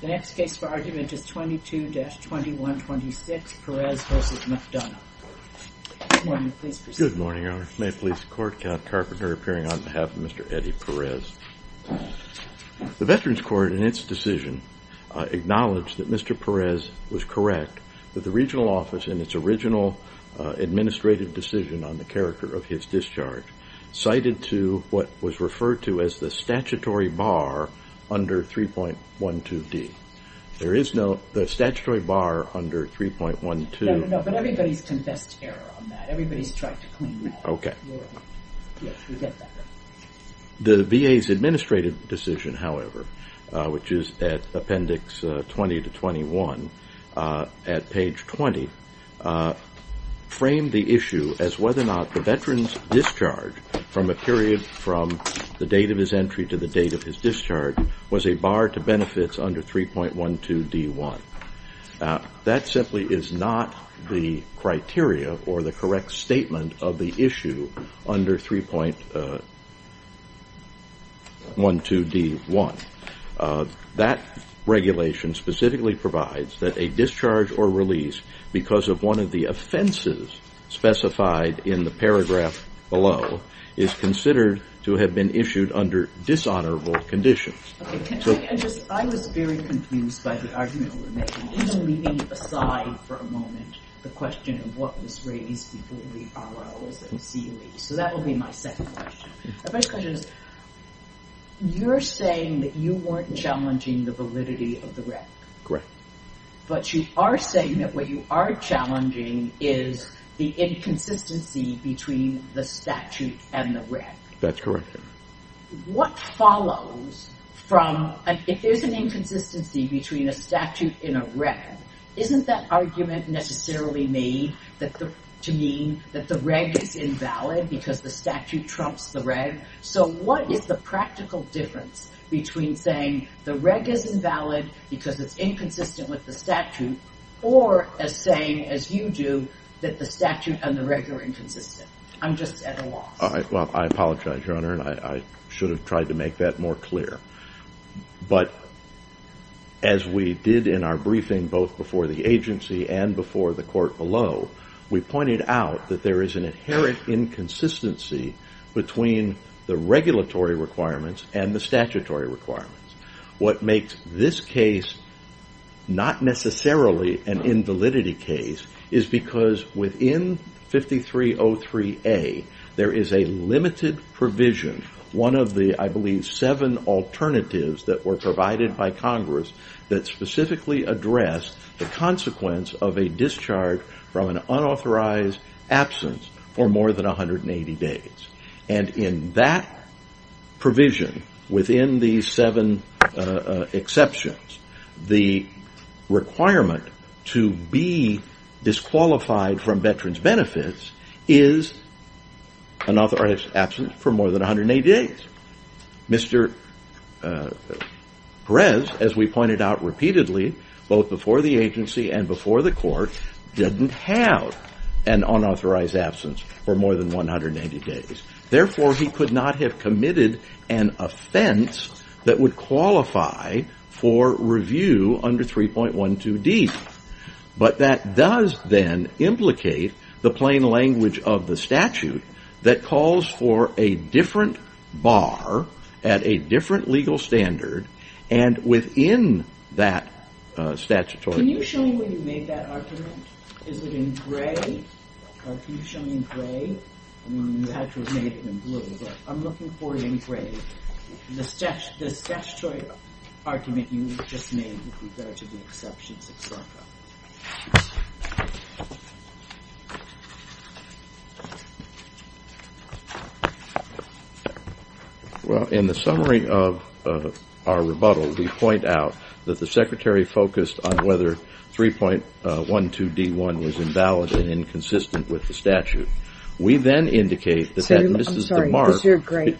The next case for argument is 22-2126 Perez v. McDonough. Good morning, please proceed. Good morning, Your Honor. May a police court count Carpenter appearing on behalf of Mr. Eddie Perez. The Veterans Court, in its decision, acknowledged that Mr. Perez was correct that the regional office, in its original administrative decision on the character of his discharge, cited to what was referred to as the statutory bar under 3.12D. There is no statutory bar under 3.12. No, but everybody's confessed error on that. Everybody's tried to clean that. Okay. Yes, we get that. The VA's administrative decision, however, which is at appendix 20-21, at page 20, framed the issue as whether or not the veteran's discharge from a period from the date of his entry to the date of his discharge was a bar to benefits under 3.12D. That simply is not the criteria or the correct statement of the issue under 3.12D. That regulation specifically provides that a discharge or release because of one of the offenses specified in the paragraph below is considered to have been issued under dishonorable conditions. I was very confused by the argument you were making, even leaving aside for a moment the question of what was raised before the ROLs and COEs. So that will be my second question. My first question is you're saying that you weren't challenging the validity of the reg. Correct. But you are saying that what you are challenging is the inconsistency between the statute and the reg. That's correct. What follows from, if there's an inconsistency between a statute and a reg, isn't that argument necessarily made to mean that the reg is invalid because the statute trumps the reg? So what is the practical difference between saying the reg is invalid because it's inconsistent with the statute or as saying, as you do, that the statute and the reg are inconsistent? I'm just at a loss. Well, I apologize, Your Honor, and I should have tried to make that more clear. But as we did in our briefing both before the agency and before the court below, we pointed out that there is an inherent inconsistency between the regulatory requirements and the statutory requirements. What makes this case not necessarily an invalidity case is because within 5303A there is a limited provision, one of the, I believe, seven alternatives that were provided by Congress that specifically address the consequence of a discharge from an unauthorized absence for more than 180 days. And in that provision, within these seven exceptions, the requirement to be disqualified from veterans' benefits is an unauthorized absence for more than 180 days. Mr. Perez, as we pointed out repeatedly both before the agency and before the court, didn't have an unauthorized absence for more than 180 days. Therefore, he could not have committed an offense that would qualify for review under 3.12d. But that does then implicate the plain language of the statute that calls for a different bar at a different legal standard and within that statutory... Can you show me where you made that argument? Is it in gray? Can you show me in gray? I mean, you had to have made it in blue, but I'm looking for it in gray. The statutory argument you just made with regard to the exceptions, et cetera. Well, in the summary of our rebuttal, we point out that the Secretary focused on whether 3.12d.1 was invalid and inconsistent with the statute. We then indicate that Mrs. DeMarc... I'm sorry, is there a gray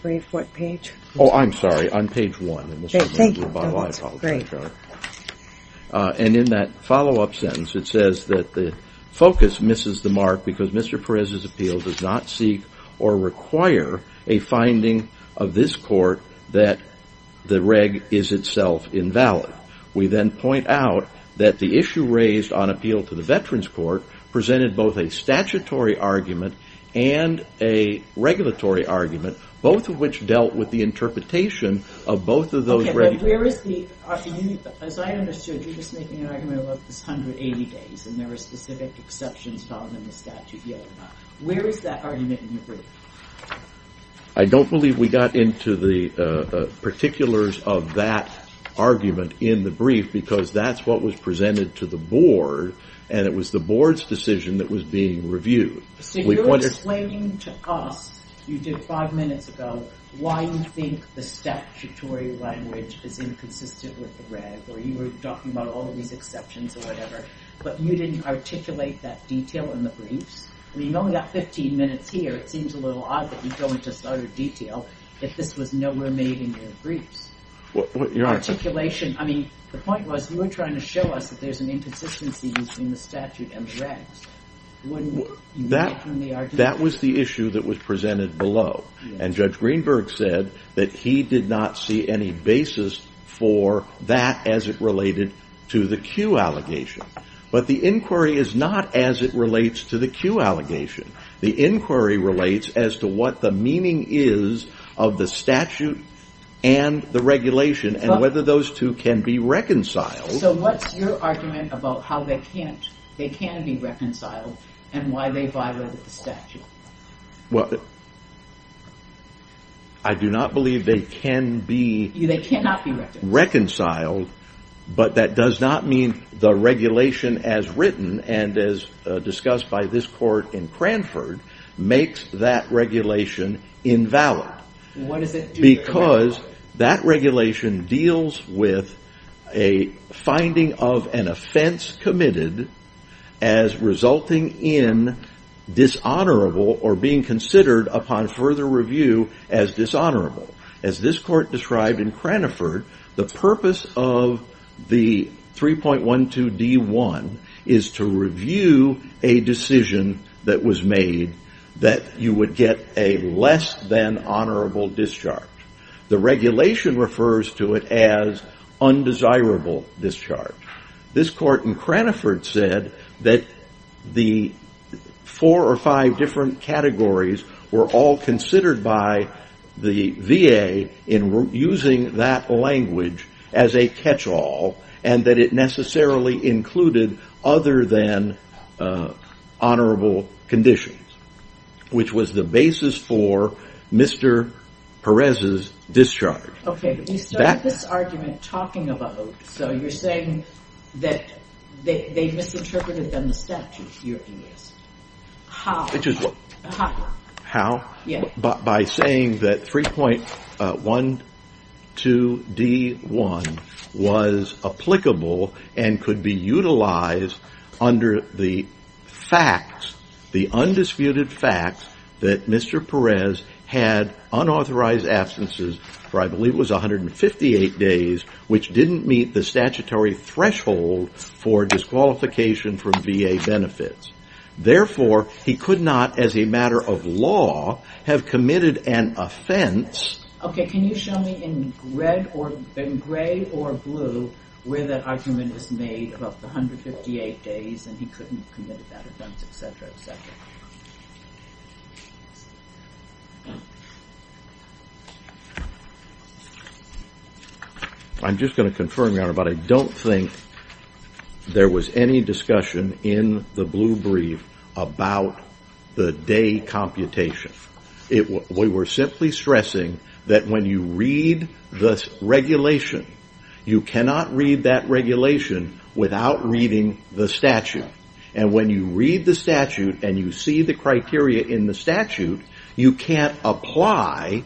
page? Oh, I'm sorry, on page 1 in the summary of the rebuttal, I apologize. And in that follow-up sentence, it says that the focus misses DeMarc because Mr. Perez's appeal does not seek or require a finding of this court that the reg is itself invalid. We then point out that the issue raised on appeal to the Veterans Court presented both a statutory argument and a regulatory argument, both of which dealt with the interpretation of both of those regs. Okay, but where is the... As I understood, you're just making an argument about this 180 days and there are specific exceptions found in the statute. Where is that argument in the brief? I don't believe we got into the particulars of that argument in the brief because that's what was presented to the board and it was the board's decision that was being reviewed. So you're explaining to us, you did five minutes ago, why you think the statutory language is inconsistent with the reg, or you were talking about all of these exceptions or whatever, but you didn't articulate that detail in the briefs? I mean, you've only got 15 minutes here. It seems a little odd that you go into such detail if this was nowhere made in your briefs. Your Honor... Articulation. I mean, the point was you were trying to show us that there's an inconsistency between the statute and the regs. That was the issue that was presented below, and Judge Greenberg said that he did not see any basis for that as it related to the Q allegation. But the inquiry is not as it relates to the Q allegation. The inquiry relates as to what the meaning is of the statute and the regulation and whether those two can be reconciled. So what's your argument about how they can be reconciled and why they violated the statute? Well, I do not believe they can be... They cannot be reconciled. ...reconciled, but that does not mean the regulation as written and as discussed by this court in Cranford makes that regulation invalid. What does it do? Because that regulation deals with a finding of an offense committed as resulting in dishonorable or being considered upon further review as dishonorable. As this court described in Cranford, the purpose of the 3.12d.1 is to review a decision that was made that you would get a less than honorable discharge. The regulation refers to it as undesirable discharge. This court in Cranford said that the four or five different categories were all considered by the VA in using that language as a catch-all and that it necessarily included other than honorable conditions, which was the basis for Mr. Perez's discharge. Okay, but you started this argument talking about... So you're saying that they misinterpreted the statute. How? How? By saying that 3.12d.1 was applicable and could be utilized under the facts, the undisputed facts, that Mr. Perez had unauthorized absences for I believe it was 158 days, which didn't meet the statutory threshold for disqualification from VA benefits. Therefore, he could not, as a matter of law, have committed an offense... Okay, can you show me in gray or blue where that argument is made about the 158 days and he couldn't have committed that offense, etc., etc.? I'm just going to confirm, Your Honor, but I don't think there was any discussion in the blue brief about the day computation. We were simply stressing that when you read the regulation, you cannot read that regulation without reading the statute. And when you read the statute and you see the criteria in the statute, you can't apply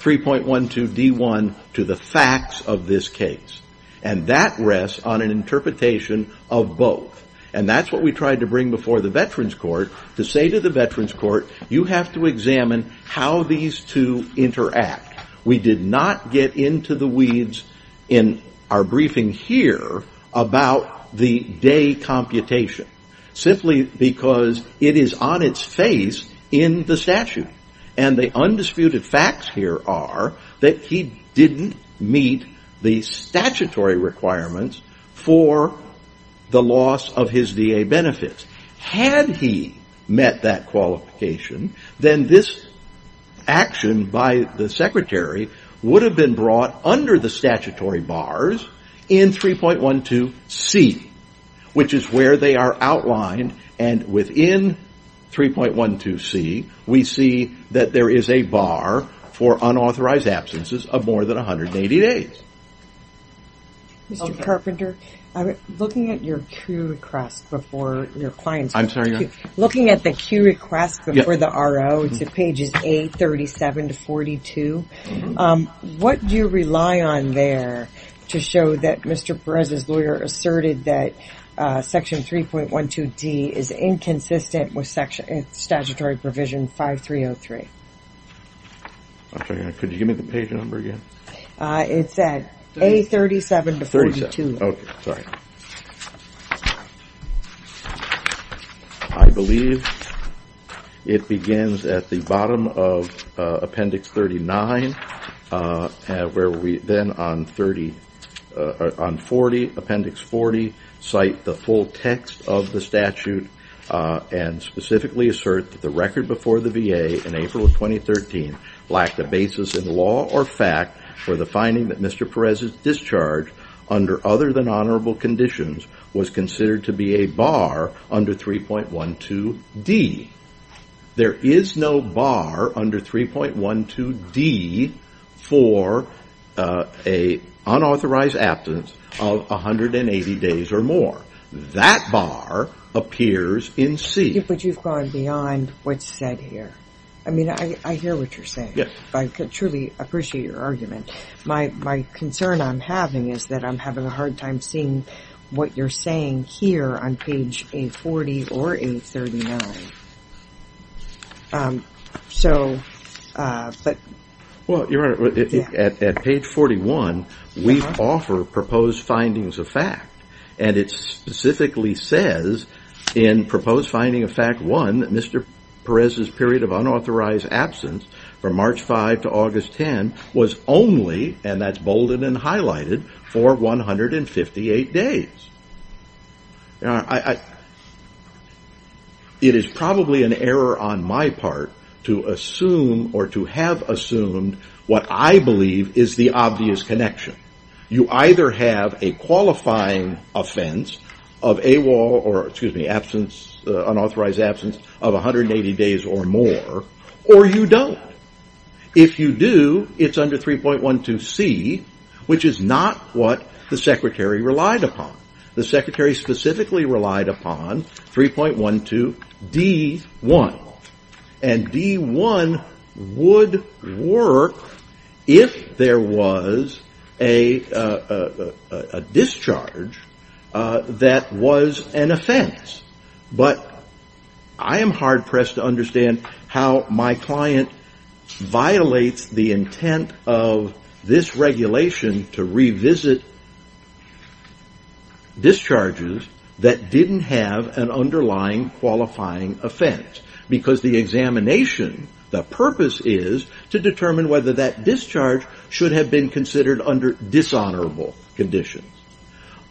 3.12d.1 to the facts of this case. And that rests on an interpretation of both. And that's what we tried to bring before the Veterans Court to say to the Veterans Court, you have to examine how these two interact. We did not get into the weeds in our briefing here about the day computation, simply because it is on its face in the statute. And the undisputed facts here are that he didn't meet the statutory requirements for the loss of his VA benefits. Had he met that qualification, then this action by the Secretary would have been brought under the statutory bars in 3.12c, which is where they are outlined. And within 3.12c, we see that there is a bar for unauthorized absences of more than 180 days. Mr. Carpenter, looking at your Q request before your client's request, looking at the Q request before the RO to pages 8, 37 to 42, what do you rely on there to show that Mr. Perez's lawyer asserted that section 3.12d is inconsistent with statutory provision 5303? Could you give me the page number again? It's at 837 to 42. I believe it begins at the bottom of appendix 39, where we then on 40, appendix 40, cite the full text of the statute and specifically assert that the record before the VA in April of 2013 lacked a basis in law or fact for the finding that Mr. Perez's discharge under other than honorable conditions was considered to be a bar under 3.12d. There is no bar under 3.12d for an unauthorized absence of 180 days or more. That bar appears in c. But you've gone beyond what's said here. I mean, I hear what you're saying. I truly appreciate your argument. My concern I'm having is that I'm having a hard time seeing what you're saying here on page 840 or 839. Well, Your Honor, at page 41, we offer proposed findings of fact, and it specifically says in proposed finding of fact one that Mr. Perez's period of unauthorized absence from March 5 to August 10 was only, and that's bolded and highlighted, for 158 days. It is probably an error on my part to assume or to have assumed what I believe is the obvious connection. You either have a qualifying offense of AWOL or, excuse me, absence, unauthorized absence of 180 days or more, or you don't. If you do, it's under 3.12c, which is not what the Secretary relied upon. The Secretary specifically relied upon 3.12d.1. And d.1 would work if there was a discharge that was an offense. But I am hard-pressed to understand how my client violates the intent of this regulation to revisit discharges that didn't have an underlying qualifying offense. Because the examination, the purpose is to determine whether that discharge should have been considered under dishonorable conditions.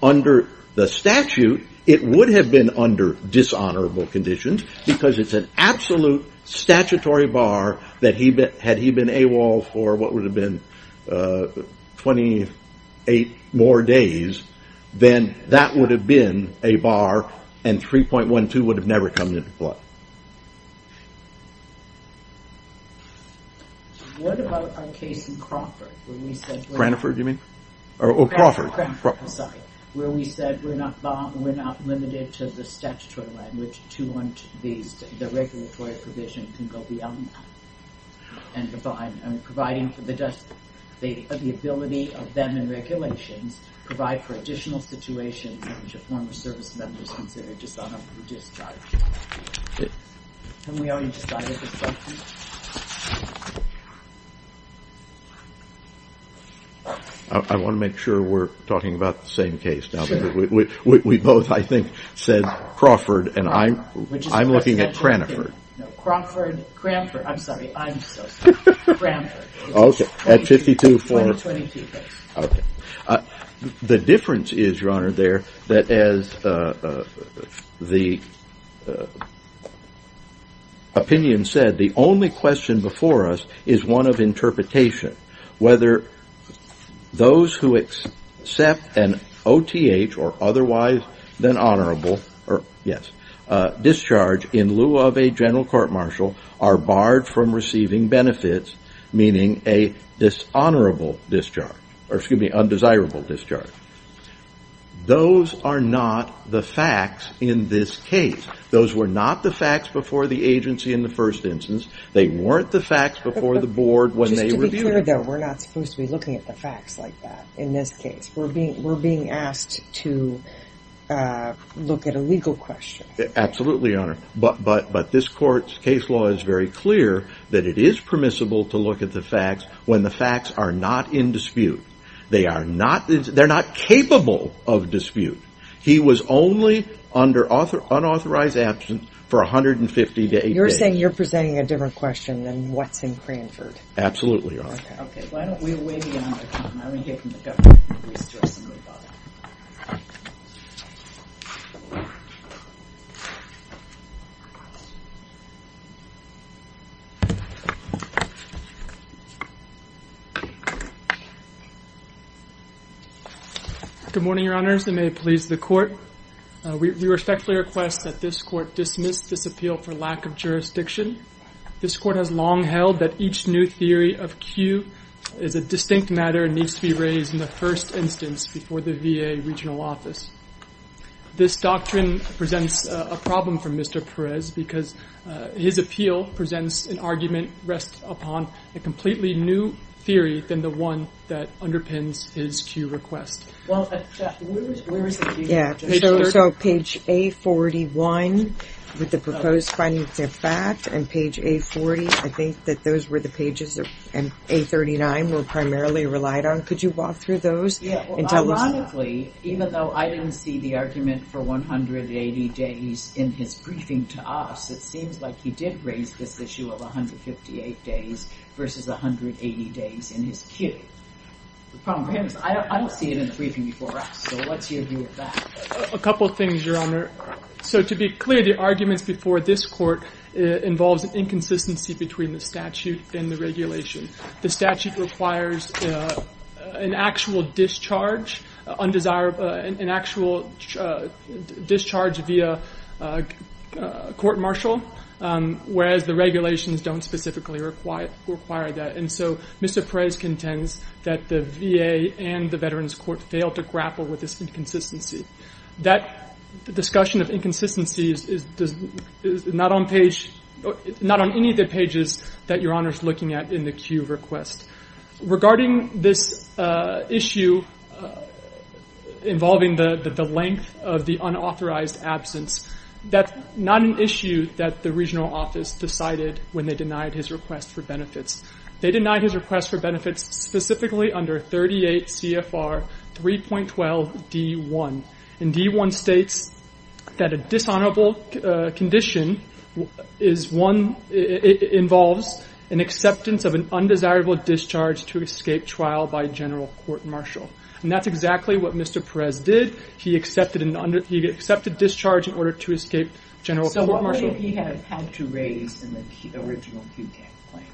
Under the statute, it would have been under dishonorable conditions, because it's an absolute statutory bar that had he been AWOL for what would have been 28 more days, then that would have been a bar and 3.12 would have never come into play. What about our case in Cranford? Cranford, you mean? Cranford, sorry. Where we said we're not limited to the statutory language to want the regulatory provision to go beyond that. And providing for the ability of them in regulations to provide for additional situations in which a former service member is considered dishonorably discharged. I want to make sure we're talking about the same case. We both, I think, said Crawford, and I'm looking at Cranford. Crawford, Cranford, I'm sorry, I'm so sorry. Cranford. Okay, at 52-4. 22 days. Okay. The difference is, Your Honor, there, that as the opinion said, the only question before us is one of interpretation. Whether those who accept an OTH or otherwise than honorable, yes, discharge in lieu of a general court martial are barred from receiving benefits, meaning a dishonorable discharge, or excuse me, undesirable discharge. Those are not the facts in this case. Those were not the facts before the agency in the first instance. They weren't the facts before the board when they reviewed it. Just to be clear, though, we're not supposed to be looking at the facts like that in this case. We're being asked to look at a legal question. Absolutely, Your Honor. But this court's case law is very clear that it is permissible to look at the facts when the facts are not in dispute. They are not, they're not capable of dispute. You're saying you're presenting a different question than what's in Cranford. Absolutely, Your Honor. Okay. Okay. Why don't we wait again. I want to hear from the government. Good morning, Your Honors. And may it please the court. We respectfully request that this court dismiss this appeal for lack of jurisdiction. This court has long held that each new theory of Q is a distinct matter and needs to be raised in the first instance before the VA regional office. This doctrine presents a problem for Mr. Perez because his appeal presents an argument rests upon a completely new theory than the one that underpins his Q request. So page A41 with the proposed finding of fact and page A40, I think that those were the pages that A39 were primarily relied on. Could you walk through those? Ironically, even though I didn't see the argument for 180 days in his briefing to us, it seems like he did raise this issue of 158 days versus 180 days in his Q. I don't see it in the briefing before us. So what's your view of that? A couple of things, Your Honor. So to be clear, the arguments before this court involves inconsistency between the statute and the regulation. The statute requires an actual discharge via court-martial, whereas the regulations don't specifically require that. And so Mr. Perez contends that the VA and the Veterans Court failed to grapple with this inconsistency. That discussion of inconsistencies is not on any of the pages that Your Honor is looking at in the Q request. Regarding this issue involving the length of the unauthorized absence, that's not an issue that the regional office decided when they denied his request for benefits. They denied his request for benefits specifically under 38 CFR 3.12 D1. And D1 states that a dishonorable condition involves an acceptance of an undesirable discharge to escape trial by general court-martial. And that's exactly what Mr. Perez did. He accepted discharge in order to escape general court-martial. So what would he have had to raise in the original QTAC claim?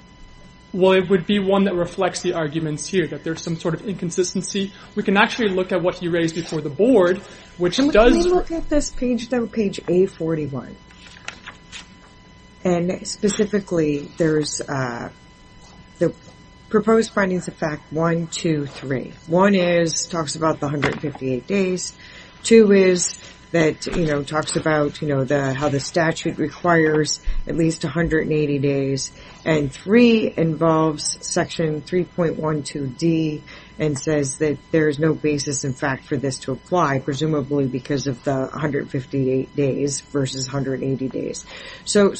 Well, it would be one that reflects the arguments here, that there's some sort of inconsistency. We can actually look at what he raised before the board, which does... Let me look at this page, though, page A41. And specifically, there's the proposed findings of fact 1, 2, 3. One talks about the 158 days. Two talks about how the statute requires at least 180 days. And three involves section 3.12 D and says that there's no basis, in fact, for this to apply, presumably because of the 158 days versus 180 days. So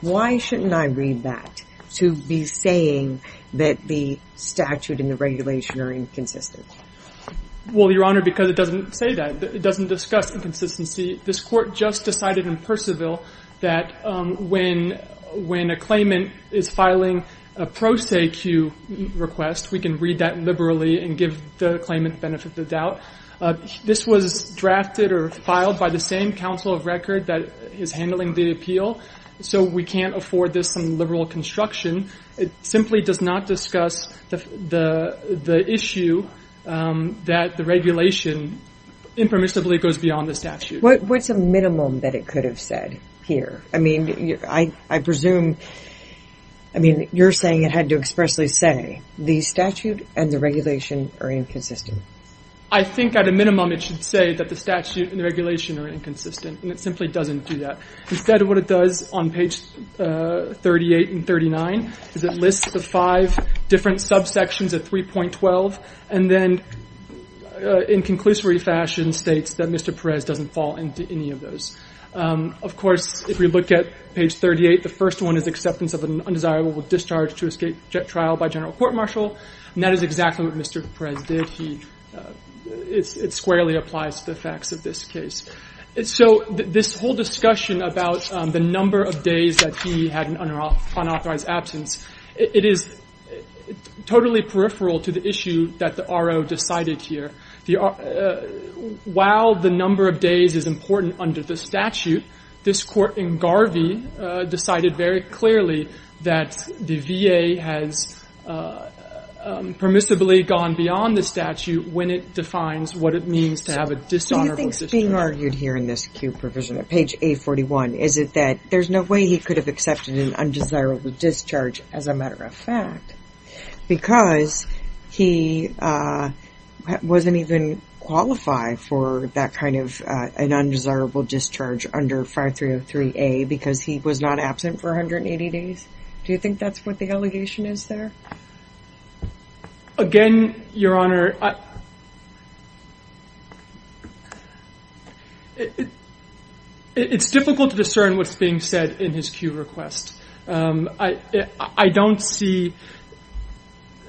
why shouldn't I read that to be saying that the statute and the regulation are inconsistent? Well, Your Honor, because it doesn't say that. It doesn't discuss inconsistency. This court just decided in Percival that when a claimant is filing a pro se Q request, we can read that liberally and give the claimant the benefit of the doubt. This was drafted or filed by the same counsel of record that is handling the appeal. So we can't afford this liberal construction. It simply does not discuss the issue that the regulation impermissibly goes beyond the statute. What's a minimum that it could have said here? I mean, I presume... I mean, you're saying it had to expressly say the statute and the regulation are inconsistent. I think at a minimum it should say that the statute and the regulation are inconsistent. And it simply doesn't do that. Instead of what it does on page 38 and 39 is it lists the five different subsections of 3.12 and then in conclusive fashion states that Mr. Perez doesn't fall into any of those. Of course, if we look at page 38, the first one is acceptance of an undesirable discharge to escape trial by general court martial. And that is exactly what Mr. Perez did. It squarely applies to the facts of this case. So this whole discussion about the number of days that he had an unauthorized absence, it is totally peripheral to the issue that the RO decided here. While the number of days is important under the statute, this court in Garvey decided very clearly that the VA has permissibly gone beyond the statute when it defines what it means to have a dishonorable discharge. So what's being argued here in this cue provision at page 841? Is it that there's no way he could have accepted an undesirable discharge as a matter of fact because he wasn't even qualified for that kind of an undesirable discharge under 5303A because he was not absent for 180 days? Do you think that's what the allegation is there? Again, Your Honor, it's difficult to discern what's being said in his cue request. I don't see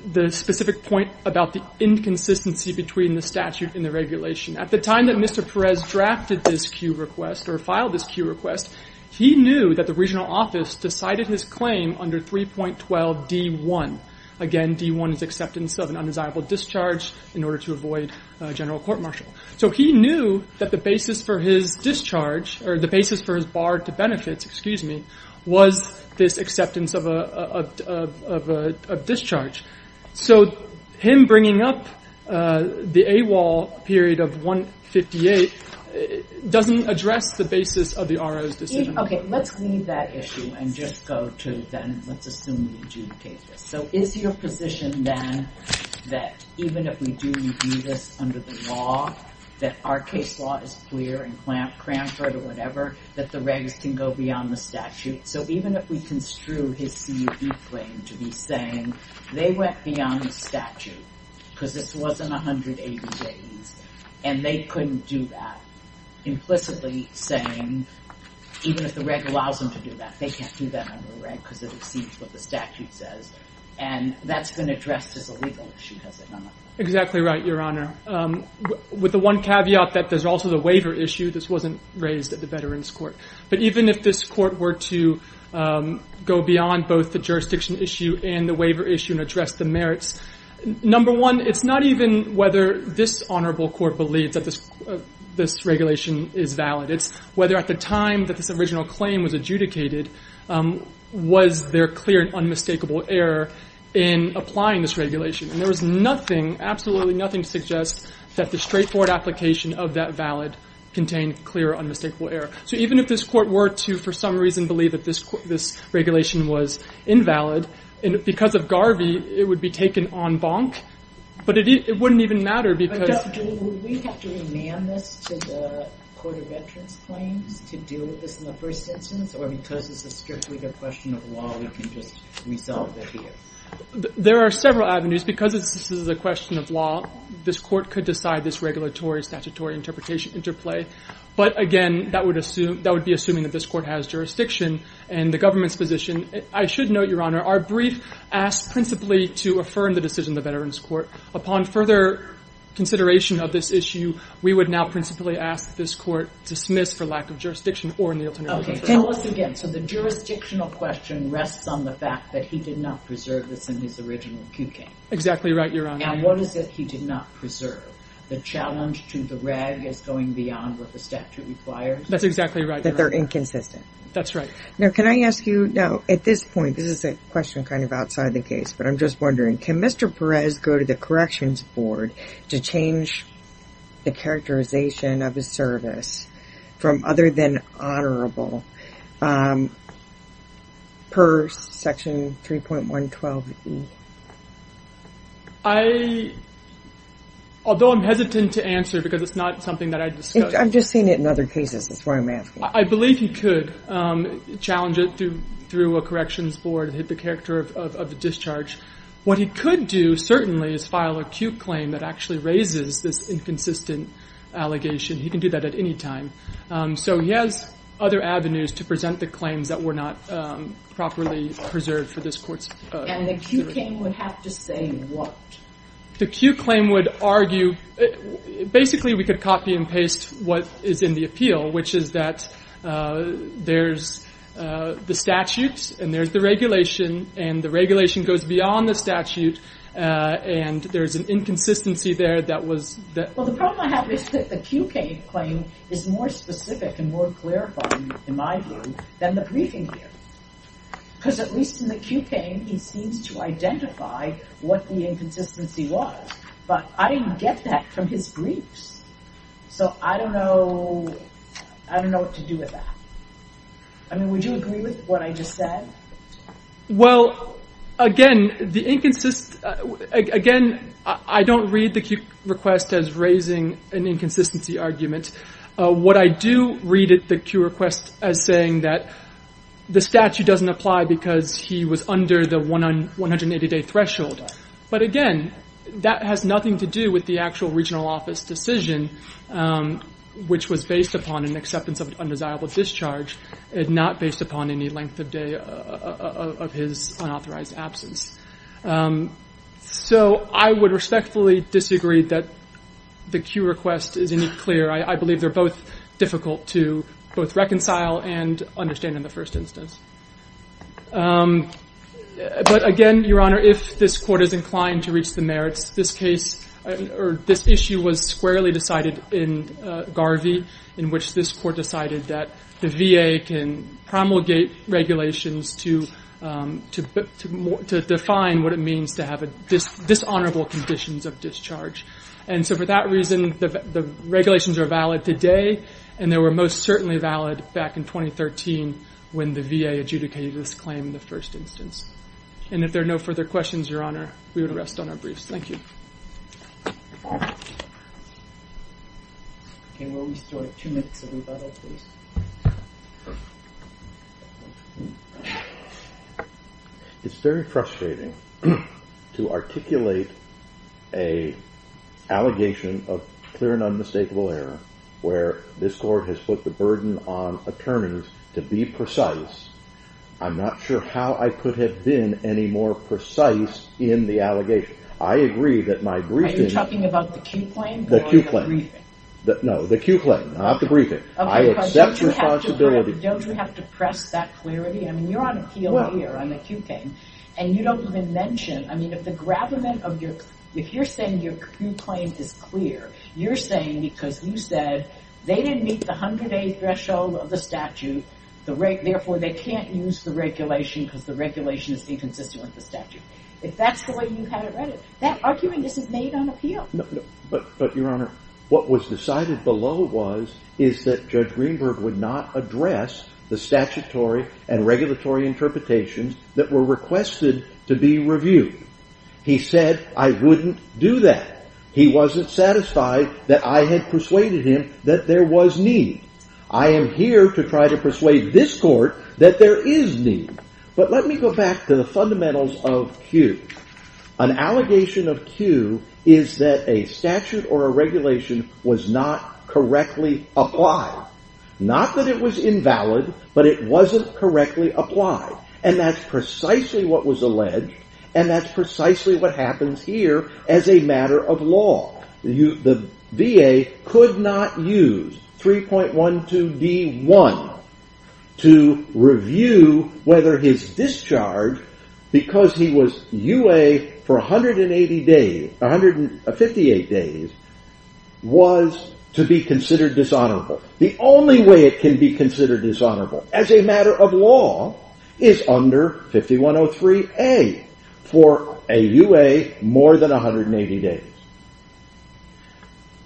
the specific point about the inconsistency between the statute and the regulation. At the time that Mr. Perez drafted this cue request or filed this cue request, he knew that the regional office decided his claim under 3.12D1. Again, D1 is acceptance of an undesirable discharge in order to avoid general court-martial. So he knew that the basis for his discharge or the basis for his barred-to-benefits, excuse me, was this acceptance of a discharge. So him bringing up the AWOL period of 158 doesn't address the basis of the RO's decision. Okay, let's leave that issue and just go to then let's assume we adjudicate this. So is your position then that even if we do adjudicate this under the law, that our case law is clear in Cranford or whatever, that the regs can go beyond the statute? So even if we construe his CUE claim to be saying they went beyond the statute because this wasn't 180 days and they couldn't do that, implicitly saying even if the reg allows them to do that, they can't do that under the reg because it exceeds what the statute says, and that's been addressed as a legal issue, has it not? Exactly right, Your Honor. With the one caveat that there's also the waiver issue, this wasn't raised at the Veterans Court. But even if this court were to go beyond both the jurisdiction issue and the waiver issue and address the merits, number one, it's not even whether this honorable court believes that this regulation is valid. It's whether at the time that this original claim was adjudicated was there clear and unmistakable error in applying this regulation. And there was nothing, absolutely nothing, to suggest that the straightforward application of that valid contained clear, unmistakable error. So even if this court were to, for some reason, believe that this regulation was invalid, because of Garvey, it would be taken en banc, but it wouldn't even matter because— But, Justice, would we have to demand this to the Court of Entrance claims to deal with this in the first instance? Or because this is strictly a question of law, we can just resolve it here? There are several avenues. Because this is a question of law, this court could decide this regulatory, statutory interpretation interplay. But, again, that would be assuming that this court has jurisdiction in the government's position. I should note, Your Honor, our brief asked principally to affirm the decision of the Veterans Court. Upon further consideration of this issue, we would now principally ask this court to dismiss for lack of jurisdiction or in the alternative— Okay. Tell us again. So the jurisdictional question rests on the fact that he did not preserve this in his original QK. Exactly right, Your Honor. Now, what is it he did not preserve? The challenge to the reg is going beyond what the statute requires? That's exactly right, Your Honor. That they're inconsistent. That's right. Now, can I ask you—now, at this point, this is a question kind of outside the case, but I'm just wondering. Can Mr. Perez go to the Corrections Board to change the characterization of his service from other than honorable per Section 3.112e? I—although I'm hesitant to answer because it's not something that I discussed— I've just seen it in other cases. That's why I'm asking. I believe he could challenge it through a Corrections Board and hit the character of a discharge. What he could do, certainly, is file a Q claim that actually raises this inconsistent allegation. He can do that at any time. So he has other avenues to present the claims that were not properly preserved for this court's— And the Q claim would have to say what? The Q claim would argue—basically, we could copy and paste what is in the appeal, which is that there's the statutes, and there's the regulation, and the regulation goes beyond the statute, and there's an inconsistency there that was— Well, the problem I have is that the Q claim is more specific and more clarifying, in my view, than the briefing here. Because at least in the Q claim, he seems to identify what the inconsistency was. But I didn't get that from his briefs. So I don't know—I don't know what to do with that. I mean, would you agree with what I just said? Well, again, the inconsistent—again, I don't read the Q request as raising an inconsistency argument. What I do read the Q request as saying that the statute doesn't apply because he was under the 180-day threshold. But again, that has nothing to do with the actual regional office decision, which was based upon an acceptance of undesirable discharge, and not based upon any length of day of his unauthorized absence. So I would respectfully disagree that the Q request is any clearer. I believe they're both difficult to both reconcile and understand in the first instance. But again, Your Honor, if this Court is inclined to reach the merits, this case— or this issue was squarely decided in Garvey, in which this Court decided that the VA can promulgate regulations to define what it means to have dishonorable conditions of discharge. And so for that reason, the regulations are valid today, and they were most certainly valid back in 2013 when the VA adjudicated this claim in the first instance. And if there are no further questions, Your Honor, we would rest on our briefs. Thank you. Can we restore two minutes of rebuttal, please? It's very frustrating to articulate an allegation of clear and unmistakable error, where this Court has put the burden on attorneys to be precise. I'm not sure how I could have been any more precise in the allegation. Are you talking about the Q claim or the briefing? No, the Q claim, not the briefing. I accept responsibility. Don't you have to press that clarity? I mean, you're on appeal here on the Q claim, and you don't even mention— I mean, if you're saying your Q claim is clear, you're saying because you said they didn't meet the 100-day threshold of the statute, if that's the way you had it written. That argument is made on appeal. But, Your Honor, what was decided below was that Judge Greenberg would not address the statutory and regulatory interpretations that were requested to be reviewed. He said, I wouldn't do that. He wasn't satisfied that I had persuaded him that there was need. I am here to try to persuade this Court that there is need. But let me go back to the fundamentals of Q. An allegation of Q is that a statute or a regulation was not correctly applied. Not that it was invalid, but it wasn't correctly applied. And that's precisely what was alleged, and that's precisely what happens here as a matter of law. The VA could not use 3.12d.1 to review whether his discharge, because he was UA for 158 days, was to be considered dishonorable. The only way it can be considered dishonorable, as a matter of law, is under 5103a for a UA more than 180 days.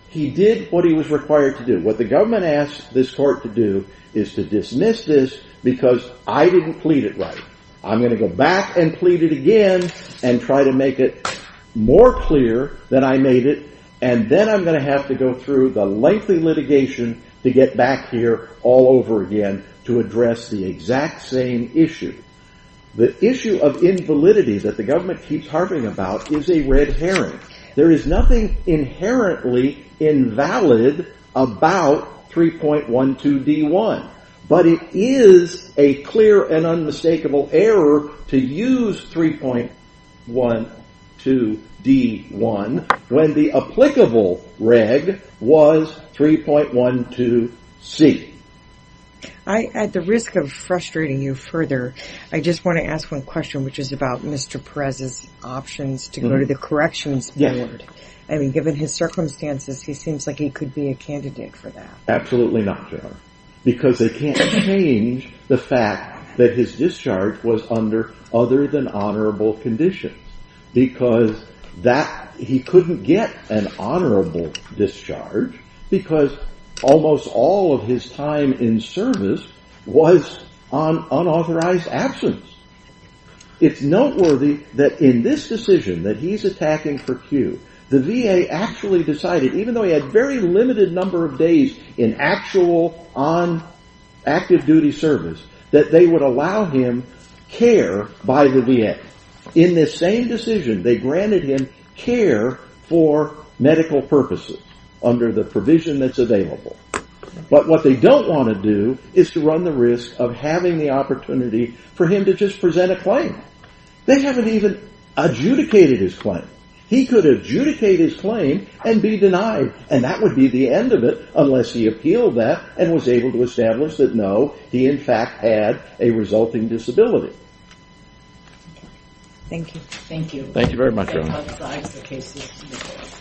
He did what he was required to do. What the government asked this Court to do is to dismiss this because I didn't plead it right. I'm going to go back and plead it again and try to make it more clear that I made it, and then I'm going to have to go through the lengthy litigation to get back here all over again to address the exact same issue. The issue of invalidity that the government keeps harping about is a red herring. There is nothing inherently invalid about 3.12d.1, but it is a clear and unmistakable error to use 3.12d.1 when the applicable reg was 3.12c. I, at the risk of frustrating you further, I just want to ask one question which is about Mr. Perez's options to go to the Corrections Board. Given his circumstances, he seems like he could be a candidate for that. Absolutely not, Joan, because they can't change the fact that his discharge was under other than honorable conditions because he couldn't get an honorable discharge because almost all of his time in service was on unauthorized absence. It's noteworthy that in this decision that he's attacking for Q, the VA actually decided, even though he had a very limited number of days in actual on active duty service, that they would allow him care by the VA. In this same decision, they granted him care for medical purposes under the provision that's available. But what they don't want to do is to run the risk of having the opportunity for him to just present a claim. They haven't even adjudicated his claim. He could adjudicate his claim and be denied, and that would be the end of it unless he appealed that and was able to establish that, no, he in fact had a resulting disability. Thank you.